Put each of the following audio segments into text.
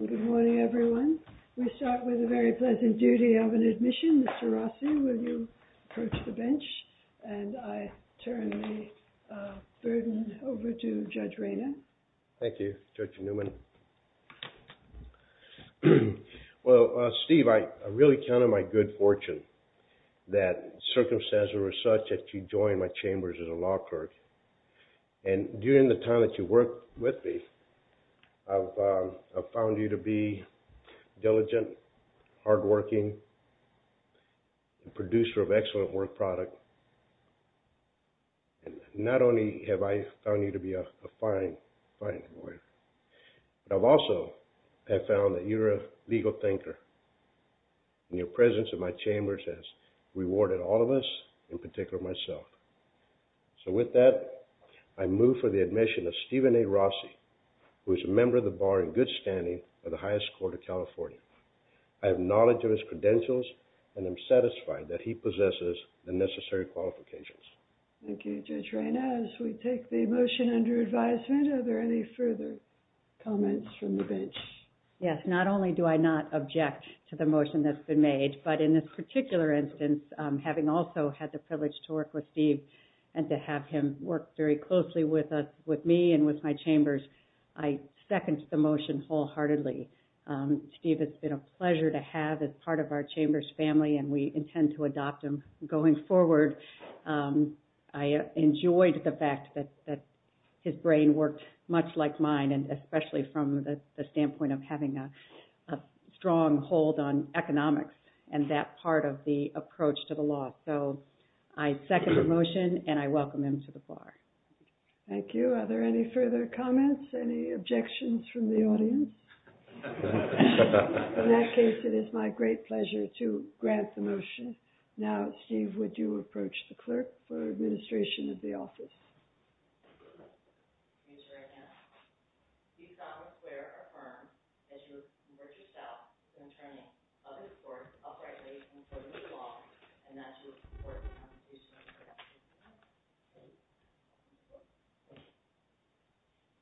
Good morning, everyone. We start with the very pleasant duty of an admission. Mr. Rossi, will you approach the bench? And I turn the burden over to Judge Rayner. Thank you, Judge Newman. Well, Steve, I really count on my good fortune that circumstances were such that you joined my chambers as a law clerk. And during the time that you worked with me, I've found you to be diligent, hardworking, a producer of excellent work product. And not only have I found you to be a fine, fine lawyer, but I've also found that you're a legal thinker. And your presence in my chambers has rewarded all of us, in particular myself. So with that, I move for the admission of Stephen A. Rossi, who is a member of the Bar in good standing of the highest court of California. I have knowledge of his credentials and am satisfied that he possesses the necessary qualifications. Thank you, Judge Rayner. As we take the motion under advisement, are there any further comments from the bench? Yes, not only do I not object to the motion that's been made, but in this particular instance, having also had the privilege to work with Steve and to have him work very closely with me and with my chambers, I second the motion wholeheartedly. Steve, it's been a pleasure to have as part of our chamber's family, and we intend to adopt him going forward. I enjoyed the fact that his brain worked much like mine, and especially from the standpoint of having a strong hold on economics and that part of the approach to the law. So I second the motion, and I welcome him to the Bar. Thank you. Are there any further comments, any objections from the audience? In that case, it is my great pleasure to grant the motion. Now, Steve, would you approach the clerk for administration of the office?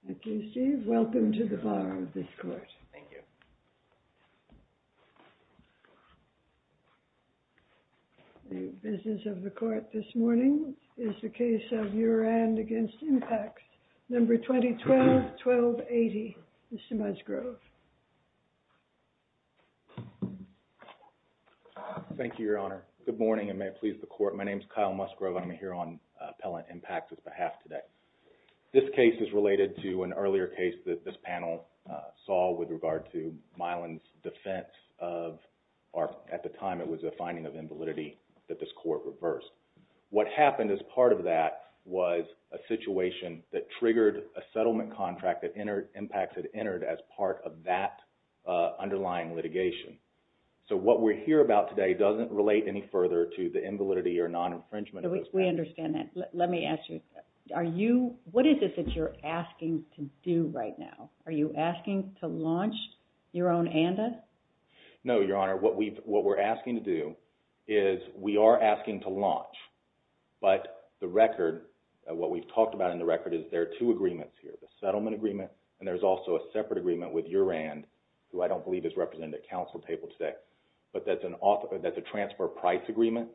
Thank you, Steve. Welcome to the Bar of this court. Thank you very much. Thank you. The business of the court this morning is the case of Urand v. Impact, No. 2012-1280. Mr. Musgrove. Thank you, Your Honor. Good morning, and may it please the court. My name is Kyle Musgrove. I'm here on Appellant Impact's behalf today. This case is related to an earlier case that this panel saw with regard to Milan's defense of, or at the time it was a finding of invalidity that this court reversed. What happened as part of that was a situation that triggered a settlement contract that Impact had entered as part of that underlying litigation. So what we're here about today doesn't relate any further to the invalidity or non-infringement of those facts. We understand that. Let me ask you, what is it that you're asking to do right now? Are you asking to launch your own ANDA? No, Your Honor. What we're asking to do is we are asking to launch, but the record, what we've talked about in the record, is there are two agreements here. The settlement agreement, and there's also a separate agreement with Urand, who I don't believe is represented at counsel table today. But that's an, that's a transfer price agreement.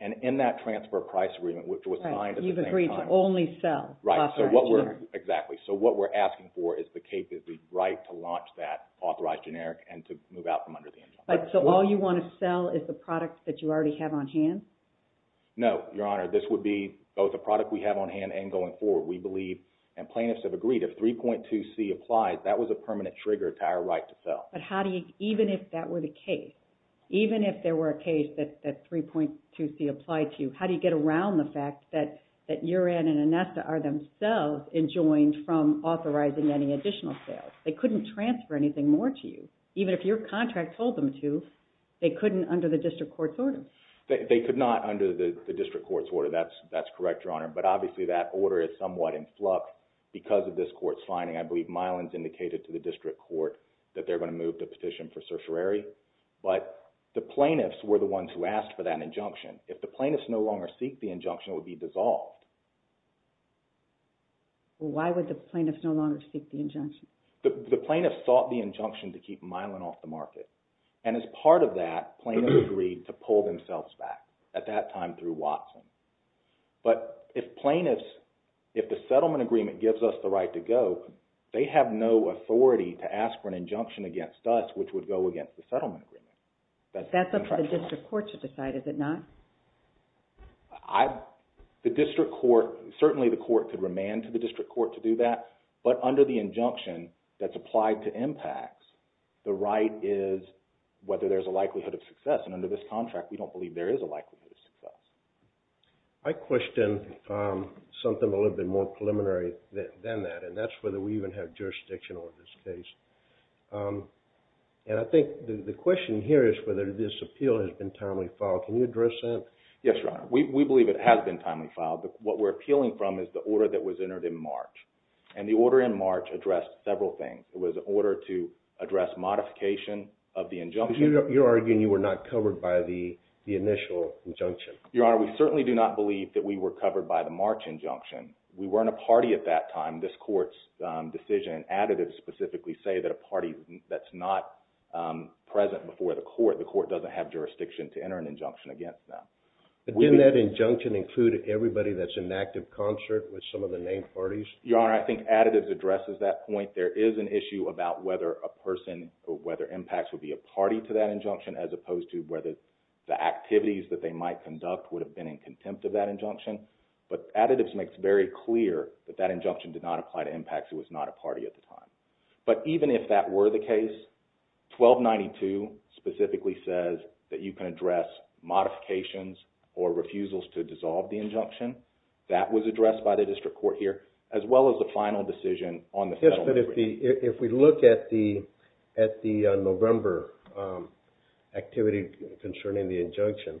And in that transfer price agreement, which was signed at the same time. Right. You've agreed to only sell authorized generic. Right. So what we're, exactly. So what we're asking for is the capability, right, to launch that authorized generic and to move out from under the influence. So all you want to sell is the product that you already have on hand? No, Your Honor. This would be both a product we have on hand and going forward. We believe, and plaintiffs have agreed, if 3.2c applies, that was a permanent trigger to our right to sell. But how do you, even if that were the case, even if there were a case that 3.2c applied to, how do you get around the fact that Urand and Anessa are themselves enjoined from authorizing any additional sales? They couldn't transfer anything more to you. Even if your contract told them to, they couldn't under the district court's order. They could not under the district court's order. That's correct, Your Honor. But obviously that order is somewhat in flux because of this court's finding. I believe Mylan's indicated to the district court that they're going to move the petition for certiorari. But the plaintiffs were the ones who asked for that injunction. If the plaintiffs no longer seek the injunction, it would be dissolved. Why would the plaintiffs no longer seek the injunction? The plaintiffs sought the injunction to keep Mylan off the market. And as part of that, plaintiffs agreed to pull themselves back, at that time through Watson. But if plaintiffs, if the settlement agreement gives us the right to go, they have no authority to ask for an injunction against us, which would go against the settlement agreement. That's up to the district court to decide, is it not? The district court, certainly the court could remand to the district court to do that. But under the injunction that's applied to impacts, the right is whether there's a likelihood of success. And under this contract, we don't believe there is a likelihood of success. I question something a little bit more preliminary than that, and that's whether we even have jurisdiction over this case. And I think the question here is whether this appeal has been timely filed. Can you address that? Yes, Your Honor. We believe it has been timely filed. What we're appealing from is the order that was entered in March. And the order in March addressed several things. It was an order to address modification of the injunction. But you're arguing you were not covered by the initial injunction. Your Honor, we certainly do not believe that we were covered by the March injunction. We weren't a party at that time. This court's decision and additives specifically say that a party that's not present before the court, the court doesn't have jurisdiction to enter an injunction against them. But didn't that injunction include everybody that's in active concert with some of the named parties? Your Honor, I think additives addresses that point. There is an issue about whether a person or whether impacts would be a party to that injunction as opposed to whether the activities that they might conduct would have been in contempt of that injunction. But additives makes very clear that that injunction did not apply to impacts. It was not a party at the time. But even if that were the case, 1292 specifically says that you can address modifications or refusals to dissolve the injunction. That was addressed by the district court here, as well as the final decision on the settlement agreement. Yes, but if we look at the November activity concerning the injunction,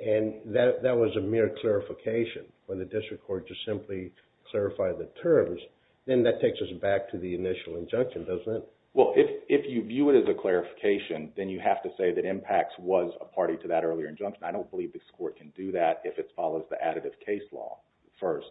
and that was a mere clarification for the district court to simply clarify the terms, then that takes us back to the initial injunction, doesn't it? Well, if you view it as a clarification, then you have to say that impacts was a party to that earlier injunction. I don't believe this court can do that if it follows the additive case law first.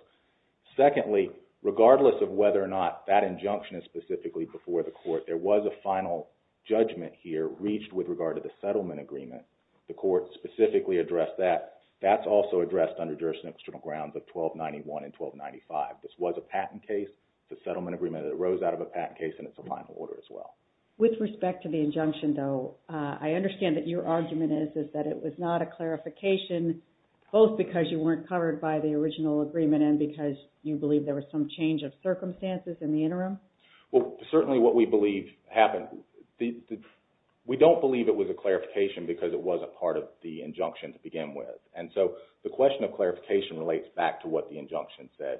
Secondly, regardless of whether or not that injunction is specifically before the court, there was a final judgment here reached with regard to the settlement agreement. The court specifically addressed that. That's also addressed under jurisdiction of external grounds of 1291 and 1295. This was a patent case. The settlement agreement arose out of a patent case, and it's a final order as well. With respect to the injunction, though, I understand that your argument is that it was not a clarification, both because you weren't covered by the original agreement and because you believe there was some change of circumstances in the interim? Well, certainly what we believe happened – we don't believe it was a clarification because it wasn't part of the injunction to begin with. And so the question of clarification relates back to what the injunction said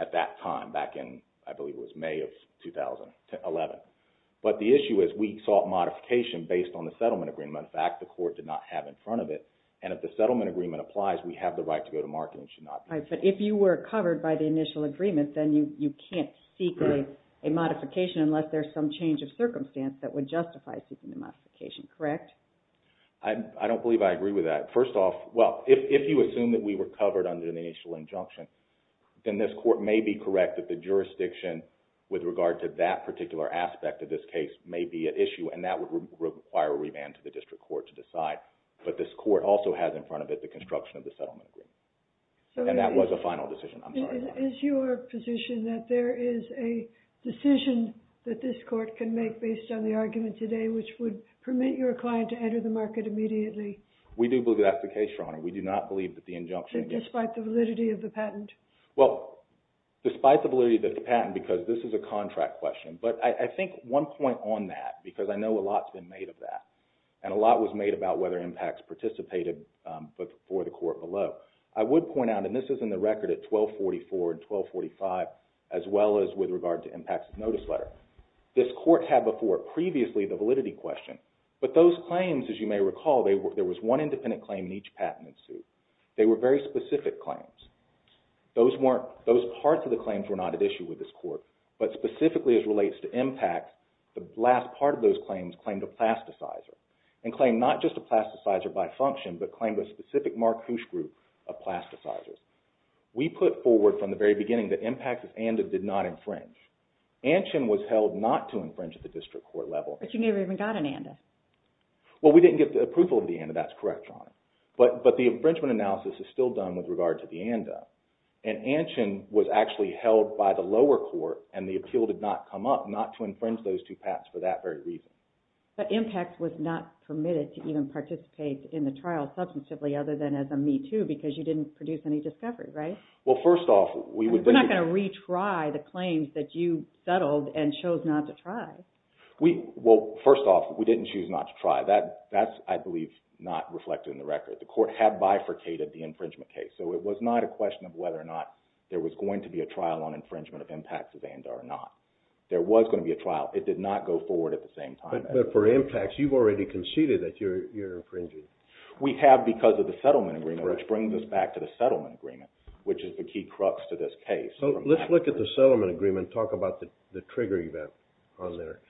at that time, back in, I believe it was May of 2011. But the issue is we sought modification based on the settlement agreement. In fact, the court did not have in front of it. And if the settlement agreement applies, we have the right to go to market and should not be. But if you were covered by the initial agreement, then you can't seek a modification unless there's some change of circumstance that would justify seeking the modification, correct? I don't believe I agree with that. First off, well, if you assume that we were covered under the initial injunction, then this court may be correct that the jurisdiction with regard to that particular aspect of this case may be at issue, and that would require a revamp to the district court to decide. But this court also has in front of it the construction of the settlement agreement. And that was a final decision. I'm sorry. Is your position that there is a decision that this court can make based on the argument today, which would permit your client to enter the market immediately? We do believe that's the case, Your Honor. We do not believe that the injunction… Despite the validity of the patent? Well, despite the validity of the patent, because this is a contract question. But I think one point on that, because I know a lot's been made of that, and a lot was made about whether impacts participated for the court below. I would point out, and this is in the record at 1244 and 1245, as well as with regard to impacts of notice letter, this court had before it previously the validity question. But those claims, as you may recall, there was one independent claim in each patent suit. They were very specific claims. Those parts of the claims were not at issue with this court. But specifically as relates to impact, the last part of those claims claimed a plasticizer, and claimed not just a plasticizer by function, but claimed a specific marquoise group of plasticizers. We put forward from the very beginning that impacts of ANDA did not infringe. ANCHIN was held not to infringe at the district court level. But you never even got an ANDA. Well, we didn't get the approval of the ANDA. That's correct, Your Honor. But the infringement analysis is still done with regard to the ANDA. And ANCHIN was actually held by the lower court, and the appeal did not come up, not to infringe those two patents for that very reason. But impact was not permitted to even participate in the trial substantively other than as a Me Too because you didn't produce any discovery, right? Well, first off, we would be… We're not going to retry the claims that you settled and chose not to try. Well, first off, we didn't choose not to try. That's, I believe, not reflected in the record. The court had bifurcated the infringement case. So it was not a question of whether or not there was going to be a trial on infringement of impacts of ANDA or not. There was going to be a trial. It did not go forward at the same time. But for impacts, you've already conceded that you're infringing. We have because of the settlement agreement, which brings us back to the settlement agreement, which is the key crux to this case. So let's look at the settlement agreement and talk about the trigger event on there.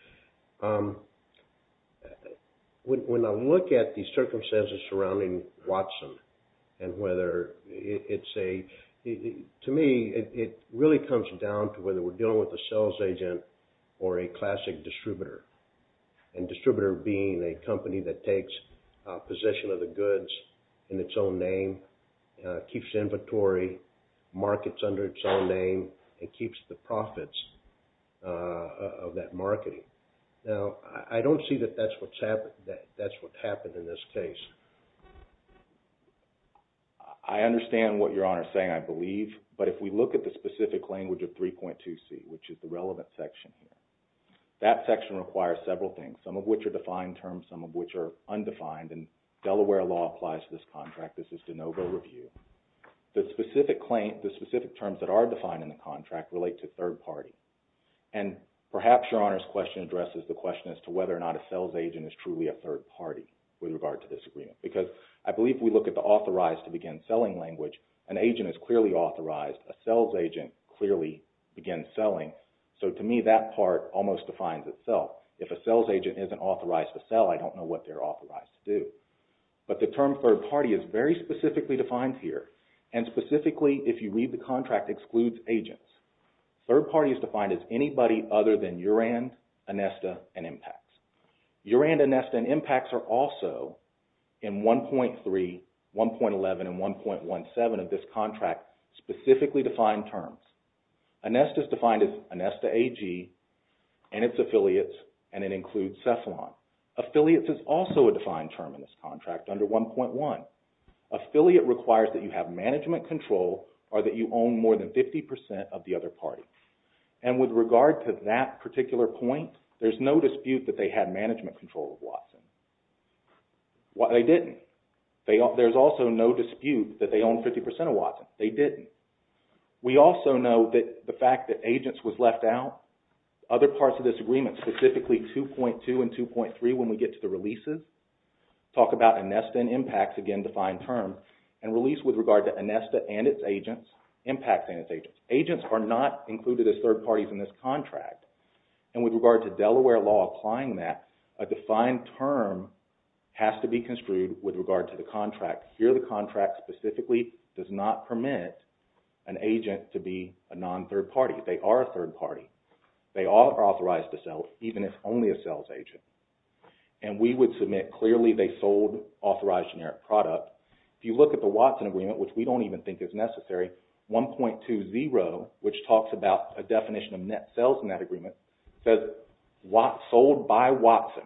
When I look at the circumstances surrounding Watson and whether it's a… or a classic distributor. And distributor being a company that takes possession of the goods in its own name, keeps inventory, markets under its own name, and keeps the profits of that marketing. Now, I don't see that that's what happened in this case. I understand what Your Honor is saying, I believe. But if we look at the specific language of 3.2C, which is the relevant section here, that section requires several things, some of which are defined terms, some of which are undefined. And Delaware law applies to this contract. This is de novo review. The specific terms that are defined in the contract relate to third party. And perhaps Your Honor's question addresses the question as to whether or not a sales agent is truly a third party with regard to this agreement. Because I believe if we look at the authorized to begin selling language, an agent is clearly authorized, a sales agent clearly begins selling. So to me, that part almost defines itself. If a sales agent isn't authorized to sell, I don't know what they're authorized to do. But the term third party is very specifically defined here. And specifically, if you read the contract, excludes agents. Third party is defined as anybody other than Uran, Inesta, and Impax. Uran, Inesta, and Impax are also in 1.3, 1.11, and 1.17 of this contract specifically defined terms. Inesta is defined as Inesta AG and its affiliates, and it includes Cefalon. Affiliates is also a defined term in this contract under 1.1. Affiliate requires that you have management control or that you own more than 50% of the other party. And with regard to that particular point, there's no dispute that they had management control of Watson. They didn't. There's also no dispute that they own 50% of Watson. They didn't. We also know that the fact that agents was left out. Other parts of this agreement, specifically 2.2 and 2.3 when we get to the releases, talk about Inesta and Impax, again, defined term, and release with regard to Inesta and its agents, Impax and its agents. Agents are not included as third parties in this contract. And with regard to Delaware law applying that, a defined term has to be construed with regard to the contract. Here the contract specifically does not permit an agent to be a non-third party. They are a third party. They are authorized to sell even if only a sales agent. And we would submit clearly they sold authorized generic product. If you look at the Watson agreement, which we don't even think is necessary, 1.20, which talks about a definition of net sales in that agreement, says sold by Watson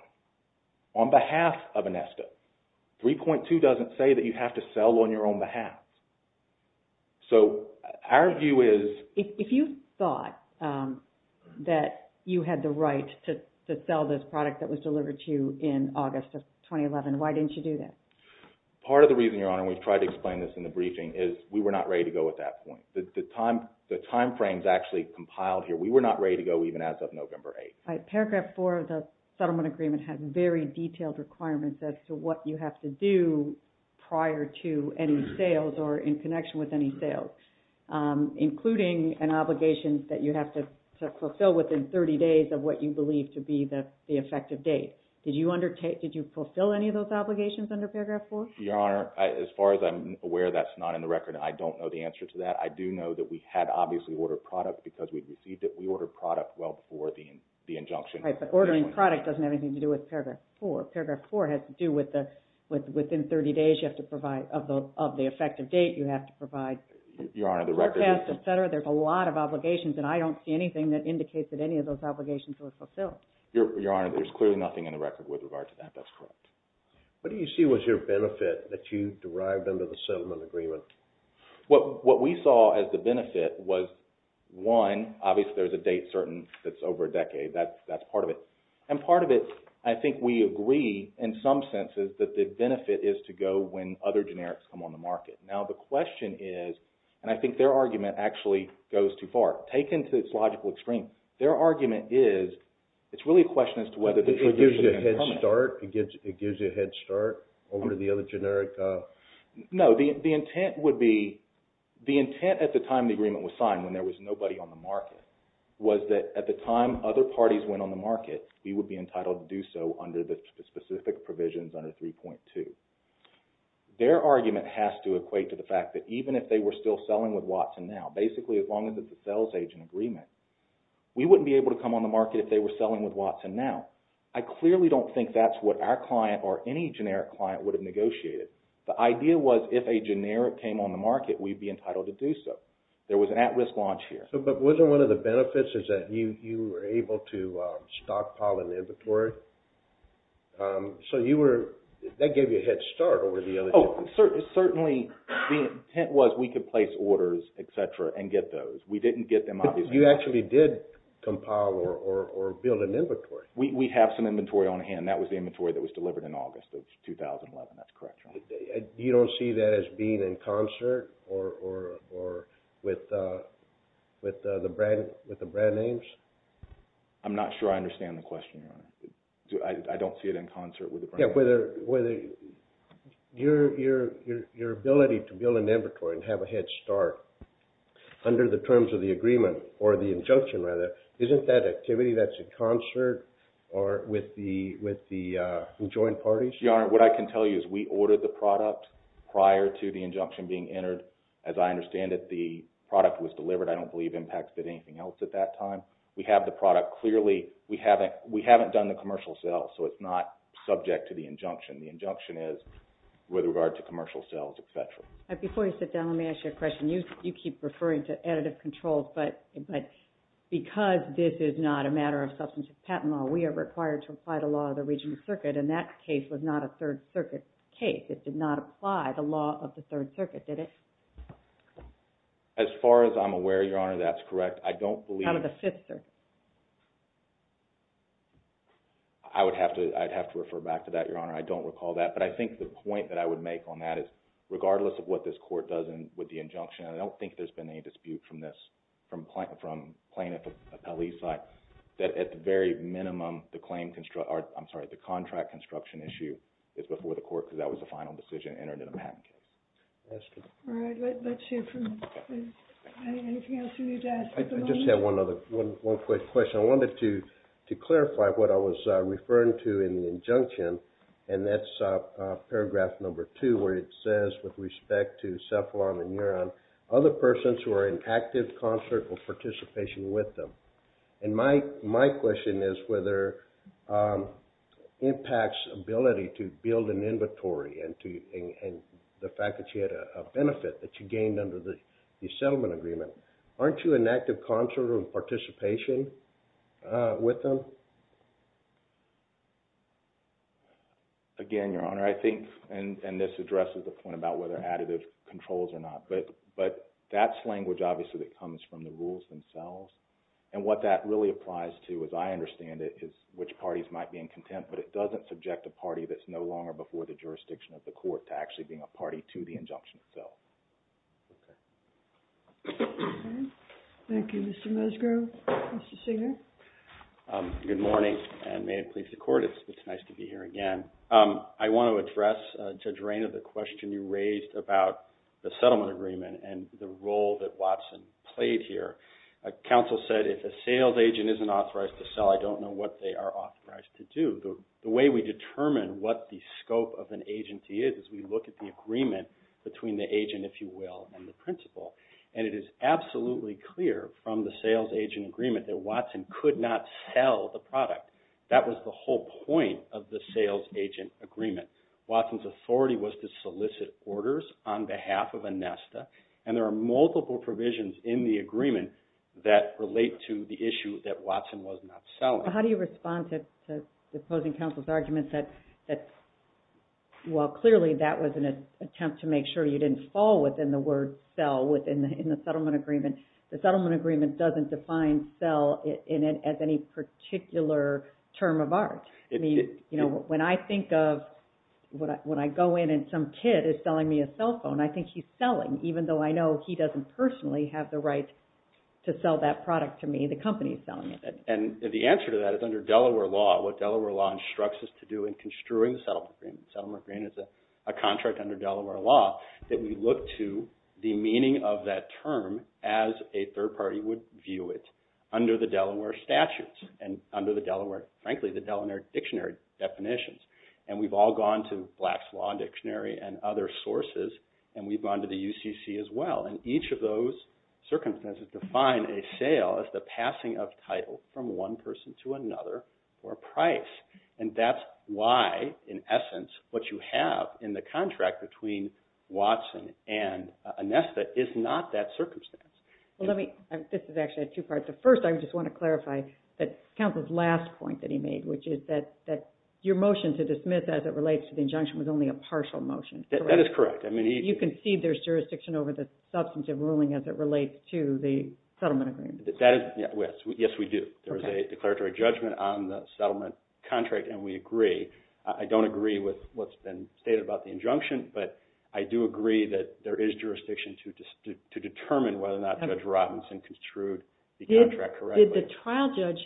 on behalf of Inesta. 3.2 doesn't say that you have to sell on your own behalf. So our view is... If you thought that you had the right to sell this product that was delivered to you in August of 2011, why didn't you do that? Part of the reason, Your Honor, and we've tried to explain this in the briefing, is we were not ready to go at that point. The time frame is actually compiled here. We were not ready to go even as of November 8th. Paragraph 4 of the settlement agreement has very detailed requirements as to what you have to do prior to any sales or in connection with any sales, including an obligation that you have to fulfill within 30 days of what you believe to be the effective date. Did you fulfill any of those obligations under Paragraph 4? Your Honor, as far as I'm aware, that's not in the record, and I don't know the answer to that. I do know that we had obviously ordered product because we received it. We ordered product well before the injunction. Right, but ordering product doesn't have anything to do with Paragraph 4. Paragraph 4 has to do with within 30 days of the effective date, you have to provide... Your Honor, the record is... There's a lot of obligations, and I don't see anything that indicates that any of those obligations were fulfilled. Your Honor, there's clearly nothing in the record with regard to that. That's correct. What do you see was your benefit that you derived under the settlement agreement? What we saw as the benefit was, one, obviously there's a date certain that's over a decade. That's part of it. And part of it, I think we agree in some senses that the benefit is to go when other generics come on the market. Now the question is, and I think their argument actually goes too far. Taken to its logical extreme, their argument is, it's really a question as to whether... It gives you a head start over the other generic... No, the intent would be, the intent at the time the agreement was signed, when there was nobody on the market, was that at the time other parties went on the market, we would be entitled to do so under the specific provisions under 3.2. Their argument has to equate to the fact that even if they were still selling with Watson now, basically as long as it's a sales agent agreement, we wouldn't be able to come on the market if they were selling with Watson now. I clearly don't think that's what our client or any generic client would have negotiated. The idea was if a generic came on the market, we'd be entitled to do so. There was an at-risk launch here. But wasn't one of the benefits is that you were able to stockpile an inventory? So you were... that gave you a head start over the other... Certainly, the intent was we could place orders, et cetera, and get those. We didn't get them obviously... But you actually did compile or build an inventory. We have some inventory on hand. That was the inventory that was delivered in August of 2011. That's correct, Your Honor. You don't see that as being in concert or with the brand names? I'm not sure I understand the question, Your Honor. I don't see it in concert with the brand names. Your ability to build an inventory and have a head start under the terms of the agreement or the injunction, rather, isn't that activity that's in concert with the joint parties? Your Honor, what I can tell you is we ordered the product prior to the injunction being entered. As I understand it, the product was delivered. I don't believe it impacted anything else at that time. We have the product. The injunction is with regard to commercial sales, et cetera. Before you sit down, let me ask you a question. You keep referring to additive controls, but because this is not a matter of substantive patent law, we are required to apply the law of the regional circuit, and that case was not a Third Circuit case. It did not apply the law of the Third Circuit, did it? As far as I'm aware, Your Honor, that's correct. I don't believe... How about the Fifth Circuit? I would have to refer back to that, Your Honor. I don't recall that, but I think the point that I would make on that is, regardless of what this court does with the injunction, I don't think there's been any dispute from plaintiff appellee's side that at the very minimum, the contract construction issue is before the court because that was the final decision entered in a patent case. All right. Let's hear from... Anything else you need to add? I just have one quick question. I wanted to clarify what I was referring to in the injunction, and that's paragraph number two where it says with respect to cephalon and neuron, other persons who are in active concert or participation with them. And my question is whether impacts ability to build an inventory and the fact that you had a benefit that you gained under the settlement agreement. Aren't you in active concert or participation with them? Again, Your Honor, I think, and this addresses the point about whether additive controls or not, but that's language obviously that comes from the rules themselves. And what that really applies to, as I understand it, is which parties might be in contempt, but it doesn't subject a party that's no longer before the jurisdiction of the court to actually being a party to the injunction itself. Okay. Thank you, Mr. Musgrove. Mr. Singer? Good morning, and may it please the Court. It's nice to be here again. I want to address, Judge Rayner, the question you raised about the settlement agreement and the role that Watson played here. Counsel said if a sales agent isn't authorized to sell, I don't know what they are authorized to do. The way we determine what the scope of an agency is is we look at the agreement between the agent, if you will, and the principal. And it is absolutely clear from the sales agent agreement that Watson could not sell the product. That was the whole point of the sales agent agreement. Watson's authority was to solicit orders on behalf of ANESTA, and there are multiple provisions in the agreement that relate to the issue that Watson was not selling. How do you respond to the opposing counsel's argument that, while clearly that was an attempt to make sure you didn't fall within the word sell in the settlement agreement, the settlement agreement doesn't define sell as any particular term of art. When I think of when I go in and some kid is selling me a cell phone, I think he's selling, even though I know he doesn't personally have the right to sell that product to me. The company is selling it. And the answer to that is under Delaware law, what Delaware law instructs us to do in construing the settlement agreement, the settlement agreement is a contract under Delaware law, that we look to the meaning of that term as a third party would view it under the Delaware statutes and under the Delaware, frankly, the Delaware dictionary definitions. And we've all gone to Black's Law Dictionary and other sources, and we've gone to the UCC as well. And each of those circumstances define a sale as the passing of title from one person to another for a price. And that's why, in essence, what you have in the contract between Watson and Anesta is not that circumstance. This is actually two parts. First, I just want to clarify that counsel's last point that he made, which is that your motion to dismiss as it relates to the injunction was only a partial motion. That is correct. You concede there's jurisdiction over the substantive ruling as it relates to the settlement agreement. Yes, we do. There's a declaratory judgment on the settlement contract, and we agree. I don't agree with what's been stated about the injunction, but I do agree that there is jurisdiction to determine whether or not Judge Robinson construed the contract correctly. Did the trial judge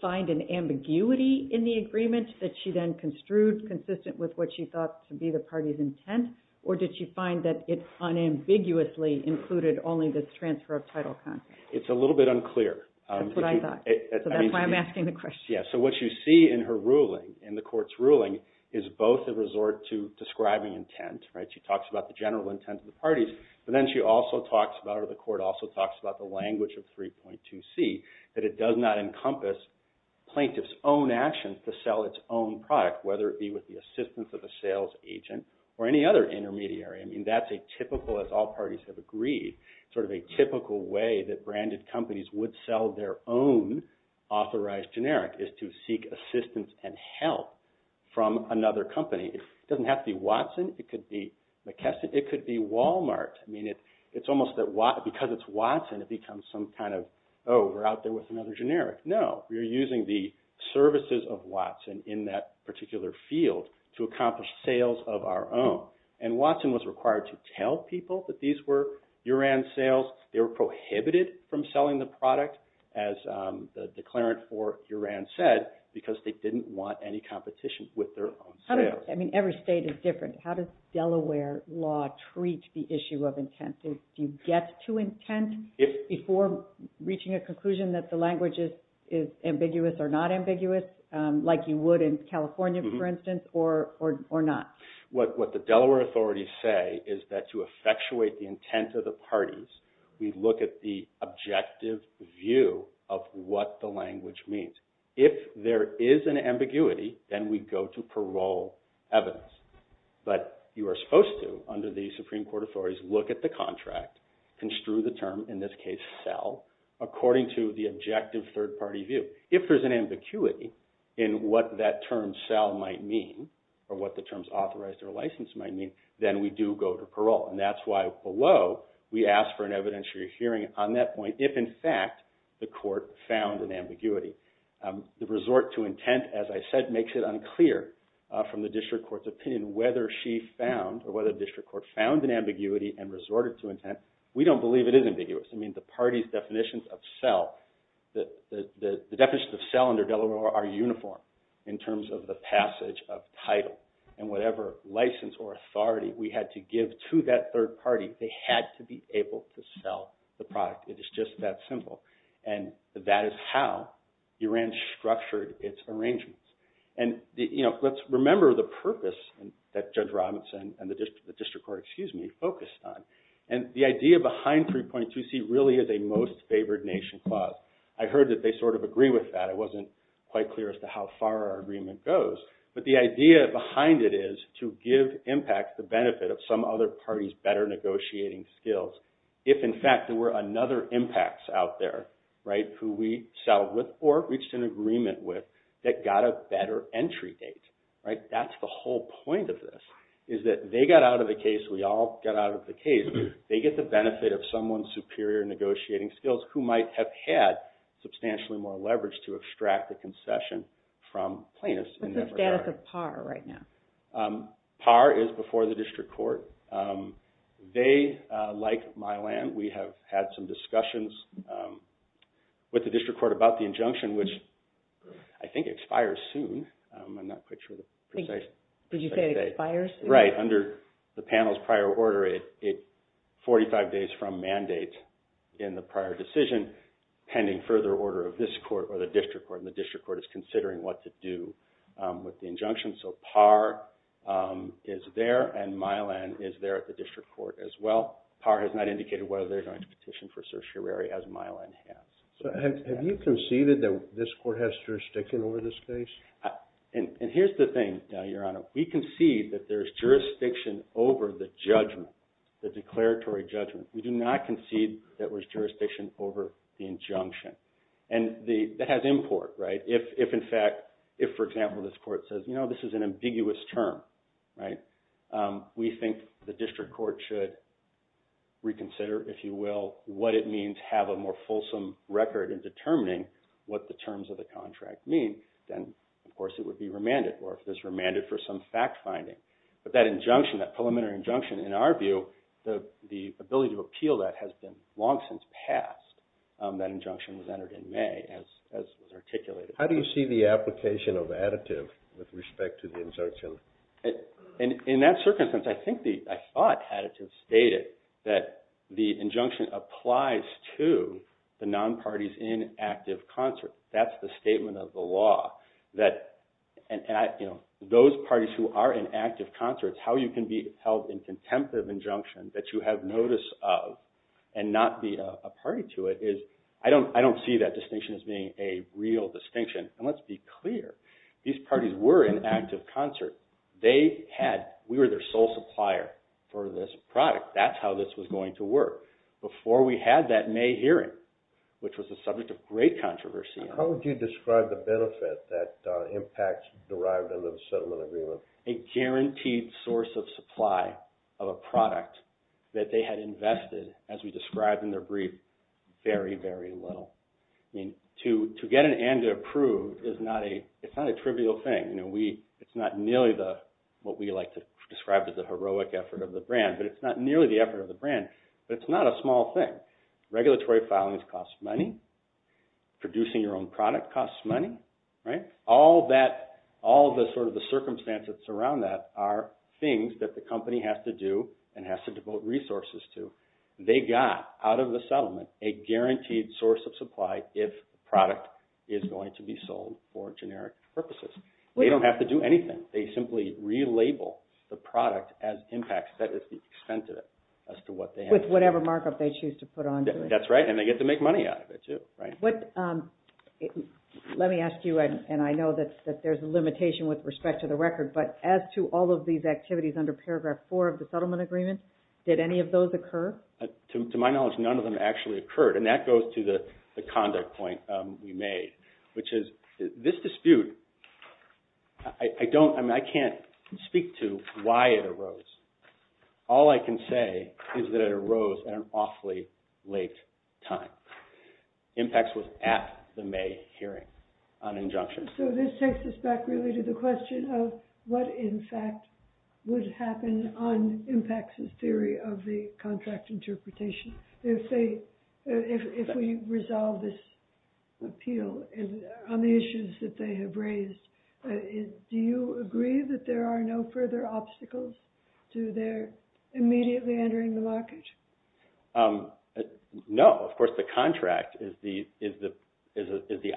find an ambiguity in the agreement that she then construed consistent with what she thought to be the party's intent, or did she find that it unambiguously included only the transfer of title contracts? It's a little bit unclear. That's what I thought. So that's why I'm asking the question. Yes, so what you see in her ruling, in the court's ruling, is both a resort to describing intent. She talks about the general intent of the parties, but then she also talks about, or the court also talks about, the language of 3.2c, that it does not encompass plaintiff's own actions to sell its own product, whether it be with the assistance of a sales agent or any other intermediary. I mean, that's a typical, as all parties have agreed, sort of a typical way that branded companies would sell their own authorized generic, is to seek assistance and help from another company. It doesn't have to be Watson. It could be McKesson. It could be Walmart. I mean, it's almost that because it's Watson, it becomes some kind of, oh, we're out there with another generic. No, we're using the services of Watson in that particular field to accomplish sales of our own. And Watson was required to tell people that these were URAN sales. They were prohibited from selling the product, as the declarant for URAN said, because they didn't want any competition with their own sales. I mean, every state is different. How does Delaware law treat the issue of intent? Do you get to intent before reaching a conclusion that the language is ambiguous or not ambiguous, like you would in California, for instance, or not? What the Delaware authorities say is that to effectuate the intent of the parties, we look at the objective view of what the language means. If there is an ambiguity, then we go to parole evidence. But you are supposed to, under the Supreme Court authorities, look at the contract, construe the term, in this case sell, according to the objective third-party view. If there's an ambiguity in what that term sell might mean or what the terms authorized or licensed might mean, then we do go to parole. And that's why below we ask for an evidentiary hearing on that point if, in fact, the court found an ambiguity. The resort to intent, as I said, makes it unclear from the district court's opinion whether she found or whether the district court found an ambiguity We don't believe it is ambiguous. I mean, the parties' definitions of sell, the definitions of sell under Delaware are uniform in terms of the passage of title. And whatever license or authority we had to give to that third party, they had to be able to sell the product. It is just that simple. And that is how URAN structured its arrangements. And let's remember the purpose that Judge Robinson and the district court focused on. And the idea behind 3.2C really is a most favored nation clause. I heard that they sort of agree with that. It wasn't quite clear as to how far our agreement goes. But the idea behind it is to give impact the benefit of some other party's better negotiating skills if, in fact, there were another impacts out there who we sell with or reached an agreement with that got a better entry date. That's the whole point of this is that they got out of the case, as we all got out of the case, they get the benefit of someone's superior negotiating skills who might have had substantially more leverage to extract the concession from plaintiffs. What's the status of PAR right now? PAR is before the district court. They, like Mylan, we have had some discussions with the district court about the injunction, which I think expires soon. Did you say it expires? Right. Under the panel's prior order, it's 45 days from mandate in the prior decision pending further order of this court or the district court. And the district court is considering what to do with the injunction. So PAR is there and Mylan is there at the district court as well. PAR has not indicated whether they're going to petition for certiorari as Mylan has. Have you conceded that this court has jurisdiction over this case? And here's the thing, Your Honor. We concede that there's jurisdiction over the judgment, the declaratory judgment. We do not concede that there's jurisdiction over the injunction. And that has import, right? If, in fact, if, for example, this court says, you know, this is an ambiguous term, right, we think the district court should reconsider, if you will, what it means to have a more fulsome record in determining what the terms of the contract mean, then, of course, it would be remanded. Or if it's remanded for some fact finding. But that injunction, that preliminary injunction, in our view, the ability to appeal that has been long since passed. That injunction was entered in May as articulated. How do you see the application of additive with respect to the injunction? In that circumstance, I think the – I thought additive stated that the injunction applies to the non-parties in active concert. That's the statement of the law. That – and, you know, those parties who are in active concert, how you can be held in contempt of injunction that you have notice of and not be a party to it is – I don't see that distinction as being a real distinction. And let's be clear. These parties were in active concert. They had – we were their sole supplier for this product. That's how this was going to work. Before we had that May hearing, which was the subject of great controversy. How would you describe the benefit that impacts derived under the settlement agreement? A guaranteed source of supply of a product that they had invested, as we described in their brief, very, very little. I mean, to get an and to approve is not a – it's not a trivial thing. You know, we – it's not nearly the – what we like to describe as the heroic effort of the brand. But it's not nearly the effort of the brand. But it's not a small thing. Regulatory filings cost money. Producing your own product costs money. All that – all the sort of the circumstances that surround that are things that the company has to do and has to devote resources to. They got, out of the settlement, a guaranteed source of supply if the product is going to be sold for generic purposes. They don't have to do anything. They simply relabel the product as impact. That is the extent of it as to what they have to do. With whatever markup they choose to put onto it. That's right, and they get to make money out of it, too. Let me ask you, and I know that there's a limitation with respect to the record, but as to all of these activities under Paragraph 4 of the settlement agreement, did any of those occur? To my knowledge, none of them actually occurred. And that goes to the conduct point we made, which is this dispute, all I can say is that it arose at an awfully late time. IMPACTS was at the May hearing on injunctions. So this takes us back really to the question of what, in fact, would happen on IMPACTS' theory of the contract interpretation if we resolve this appeal on the issues that they have raised. Do you agree that there are no further obstacles to their immediately entering the market? No, of course the contract is the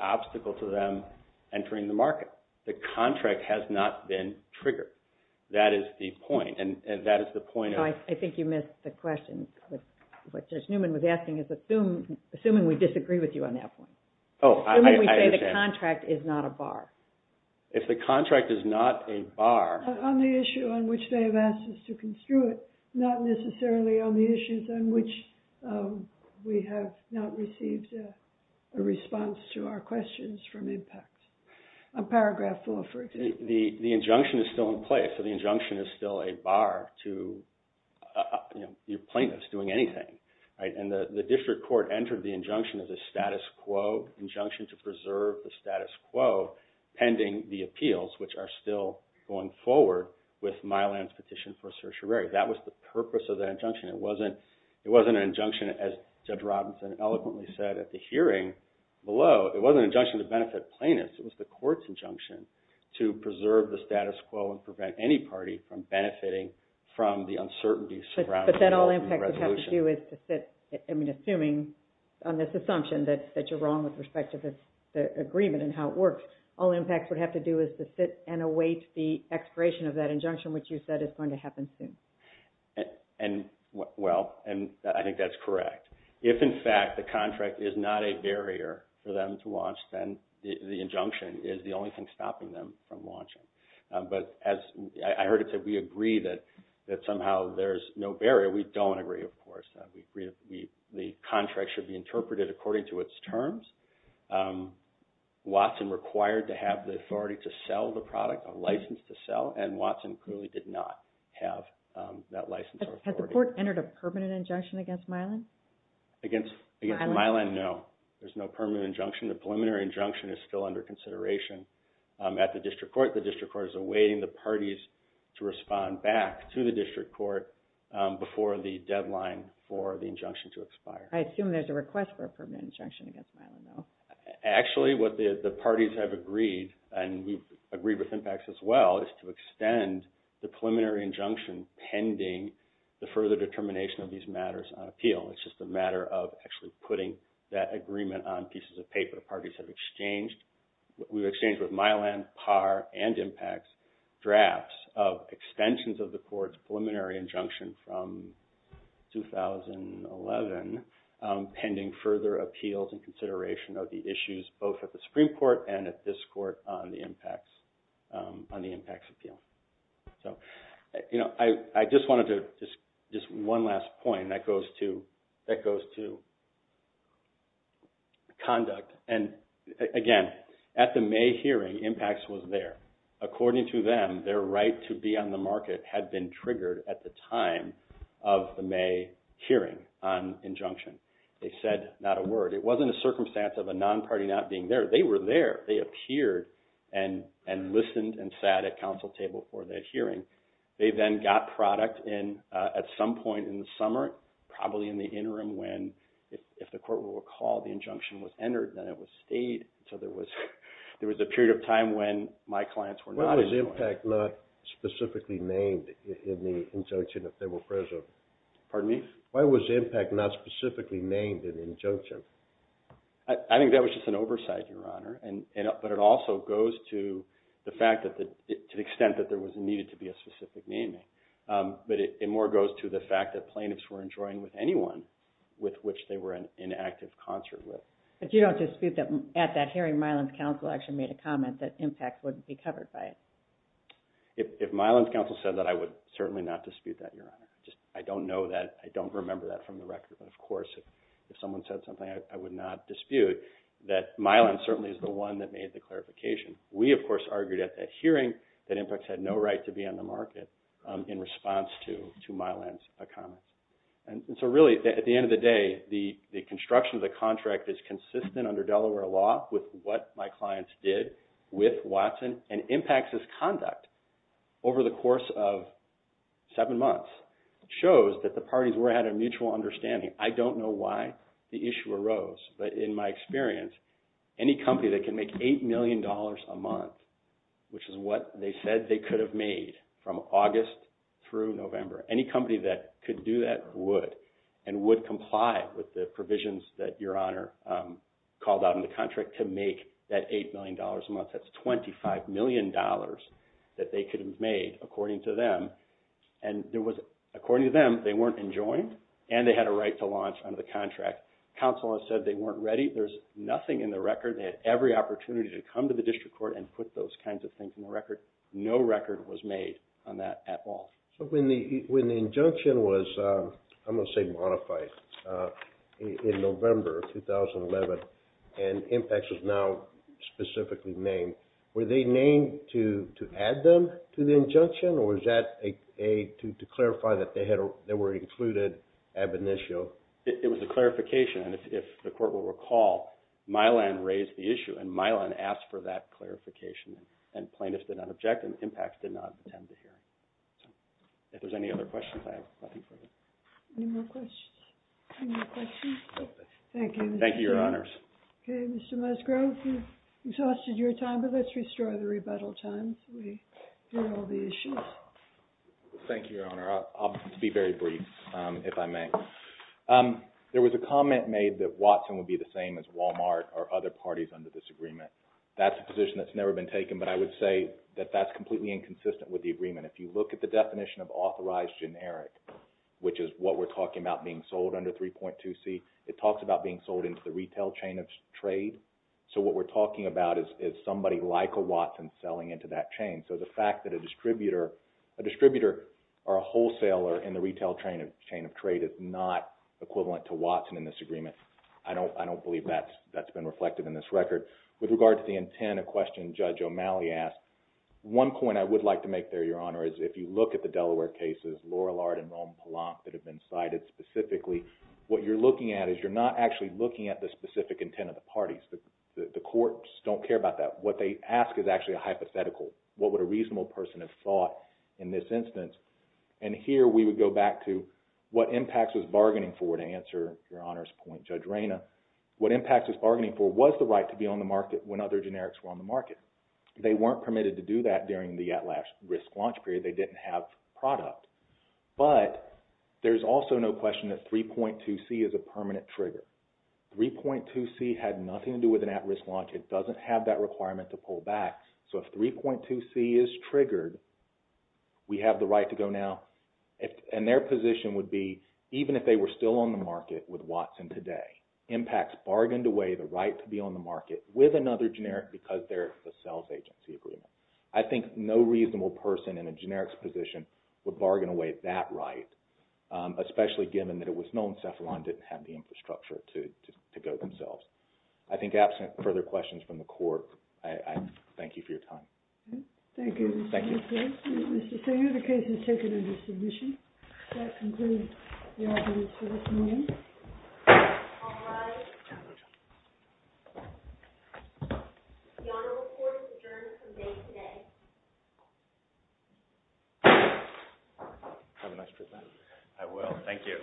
obstacle to them entering the market. The contract has not been triggered. That is the point, and that is the point of... I think you missed the question. What Judge Newman was asking is assuming we disagree with you on that point. Oh, I understand. Assuming we say the contract is not a bar. If the contract is not a bar... On the issue on which they have asked us to construe it, not necessarily on the issues on which we have not received a response to our questions from IMPACTS. On Paragraph 4, for example. The injunction is still in place, so the injunction is still a bar to your plaintiffs doing anything. The district court entered the injunction as a status quo, injunction to preserve the status quo pending the appeals which are still going forward with Mylan's petition for certiorari. That was the purpose of that injunction. It wasn't an injunction, as Judge Robinson eloquently said at the hearing below. It wasn't an injunction to benefit plaintiffs. It was the court's injunction to preserve the status quo and prevent any party from benefiting from the uncertainty surrounding... But then all IMPACTS would have to do is to sit, I mean, assuming on this assumption that you're wrong with respect to the agreement and how it works, all IMPACTS would have to do is to sit and await the expiration of that injunction, which you said is going to happen soon. Well, I think that's correct. If, in fact, the contract is not a barrier for them to launch, then the injunction is the only thing stopping them from launching. But as I heard it said, we agree that somehow there's no barrier. We don't agree, of course. The contract should be interpreted according to its terms. Watson required to have the authority to sell the product, a license to sell, and Watson clearly did not have that license or authority. Had the court entered a permanent injunction against Mylan? Against Mylan, no. There's no permanent injunction. The preliminary injunction is still under consideration at the district court. The district court is awaiting the parties to respond back to the district court before the deadline for the injunction to expire. I assume there's a request for a permanent injunction against Mylan, though. Actually, what the parties have agreed, and we've agreed with IMPACTS as well, is to extend the preliminary injunction pending the further determination of these matters on appeal. It's just a matter of actually putting that agreement on pieces of paper. We've exchanged with Mylan, PAR, and IMPACTS drafts of extensions of the court's preliminary injunction from 2011 pending further appeals and consideration of the issues both at the Supreme Court and at this court on the IMPACTS appeal. I just wanted to, just one last point, and that goes to conduct. And again, at the May hearing, IMPACTS was there. According to them, their right to be on the market had been triggered at the time of the May hearing on injunction. They said not a word. It wasn't a circumstance of a non-party not being there. They were there. They appeared and listened and sat at council table for that hearing. They then got product at some point in the summer, probably in the interim, when, if the court will recall, the injunction was entered, then it was stayed until there was a period of time when my clients were not in the court. Why was IMPACTS not specifically named in the injunction if they were present? Pardon me? Why was IMPACTS not specifically named in the injunction? I think that was just an oversight, Your Honor, but it also goes to the extent that there needed to be a specific naming. But it more goes to the fact that plaintiffs were enjoined with anyone with which they were in active concert with. But you don't dispute that at that hearing, Mylan's counsel actually made a comment that IMPACTS wouldn't be covered by it. If Mylan's counsel said that, I would certainly not dispute that, Your Honor. I don't know that. I don't remember that from the record. But, of course, if someone said something, I would not dispute that Mylan certainly is the one that made the clarification. We, of course, argued at that hearing that IMPACTS had no right to be on the market in response to Mylan's comments. And so, really, at the end of the day, the construction of the contract is consistent under Delaware law with what my clients did with Watson, and IMPACTS' conduct over the course of seven months shows that the parties were at a mutual understanding. I don't know why the issue arose, but in my experience, any company that can make $8 million a month, which is what they said they could have made from August through November, any company that could do that would, and would comply with the provisions that Your Honor called out in the contract to make that $8 million a month. That's $25 million that they could have made, according to them. And there was, according to them, they weren't enjoined, and they had a right to launch under the contract. Counsel has said they weren't ready. There's nothing in the record. They had every opportunity to come to the district court and put those kinds of things in the record. No record was made on that at all. So when the injunction was, I'm going to say modified, in November of 2011, and IMPACTS was now specifically named, were they named to add them to the injunction, or was that to clarify that they were included ab initio? It was a clarification, and if the court will recall, Mylan raised the issue, and Mylan asked for that clarification, and plaintiffs did not object, and IMPACTS did not attend the hearing. If there's any other questions, I have nothing further. Any more questions? Thank you, Your Honors. Okay, Mr. Musgrove, you've exhausted your time, but let's restore the rebuttal time so we hear all the issues. Thank you, Your Honor. I'll be very brief, if I may. There was a comment made that Watson would be the same as Walmart or other parties under this agreement. That's a position that's never been taken, but I would say that that's completely inconsistent with the agreement. If you look at the definition of authorized generic, which is what we're talking about being sold under 3.2c, it talks about being sold into the retail chain of trade. So what we're talking about is somebody like a Watson selling into that chain. So the fact that a distributor or a wholesaler in the retail chain of trade is not equivalent to Watson in this agreement, I don't believe that's been reflected in this record. With regard to the intent, a question Judge O'Malley asked, one point I would like to make there, Your Honor, is if you look at the Delaware cases, Laurel Arden and Rome Pallant that have been cited specifically, what you're looking at is you're not actually looking at the specific intent of the parties. The courts don't care about that. What they ask is actually a hypothetical. What would a reasonable person have thought in this instance? And here we would go back to what impacts was bargaining for, to answer Your Honor's point, Judge Reyna. What impacts was bargaining for was the right to be on the market when other generics were on the market. They weren't permitted to do that during the at-risk launch period. They didn't have product. But there's also no question that 3.2c is a permanent trigger. 3.2c had nothing to do with an at-risk launch. It doesn't have that requirement to pull back. So if 3.2c is triggered, we have the right to go now. And their position would be, even if they were still on the market with Watson today, impacts bargained away the right to be on the market with another generic because they're a sales agency agreement. I think no reasonable person in a generics position would bargain away that right, especially given that it was known that they had the infrastructure to go themselves. I think absent further questions from the Court, I thank you for your time. Thank you. Thank you. So your case is taken under submission. That concludes the arguments for this morning. All rise. The Honorable Court is adjourned from day today. Have a nice trip back. I will. Thank you.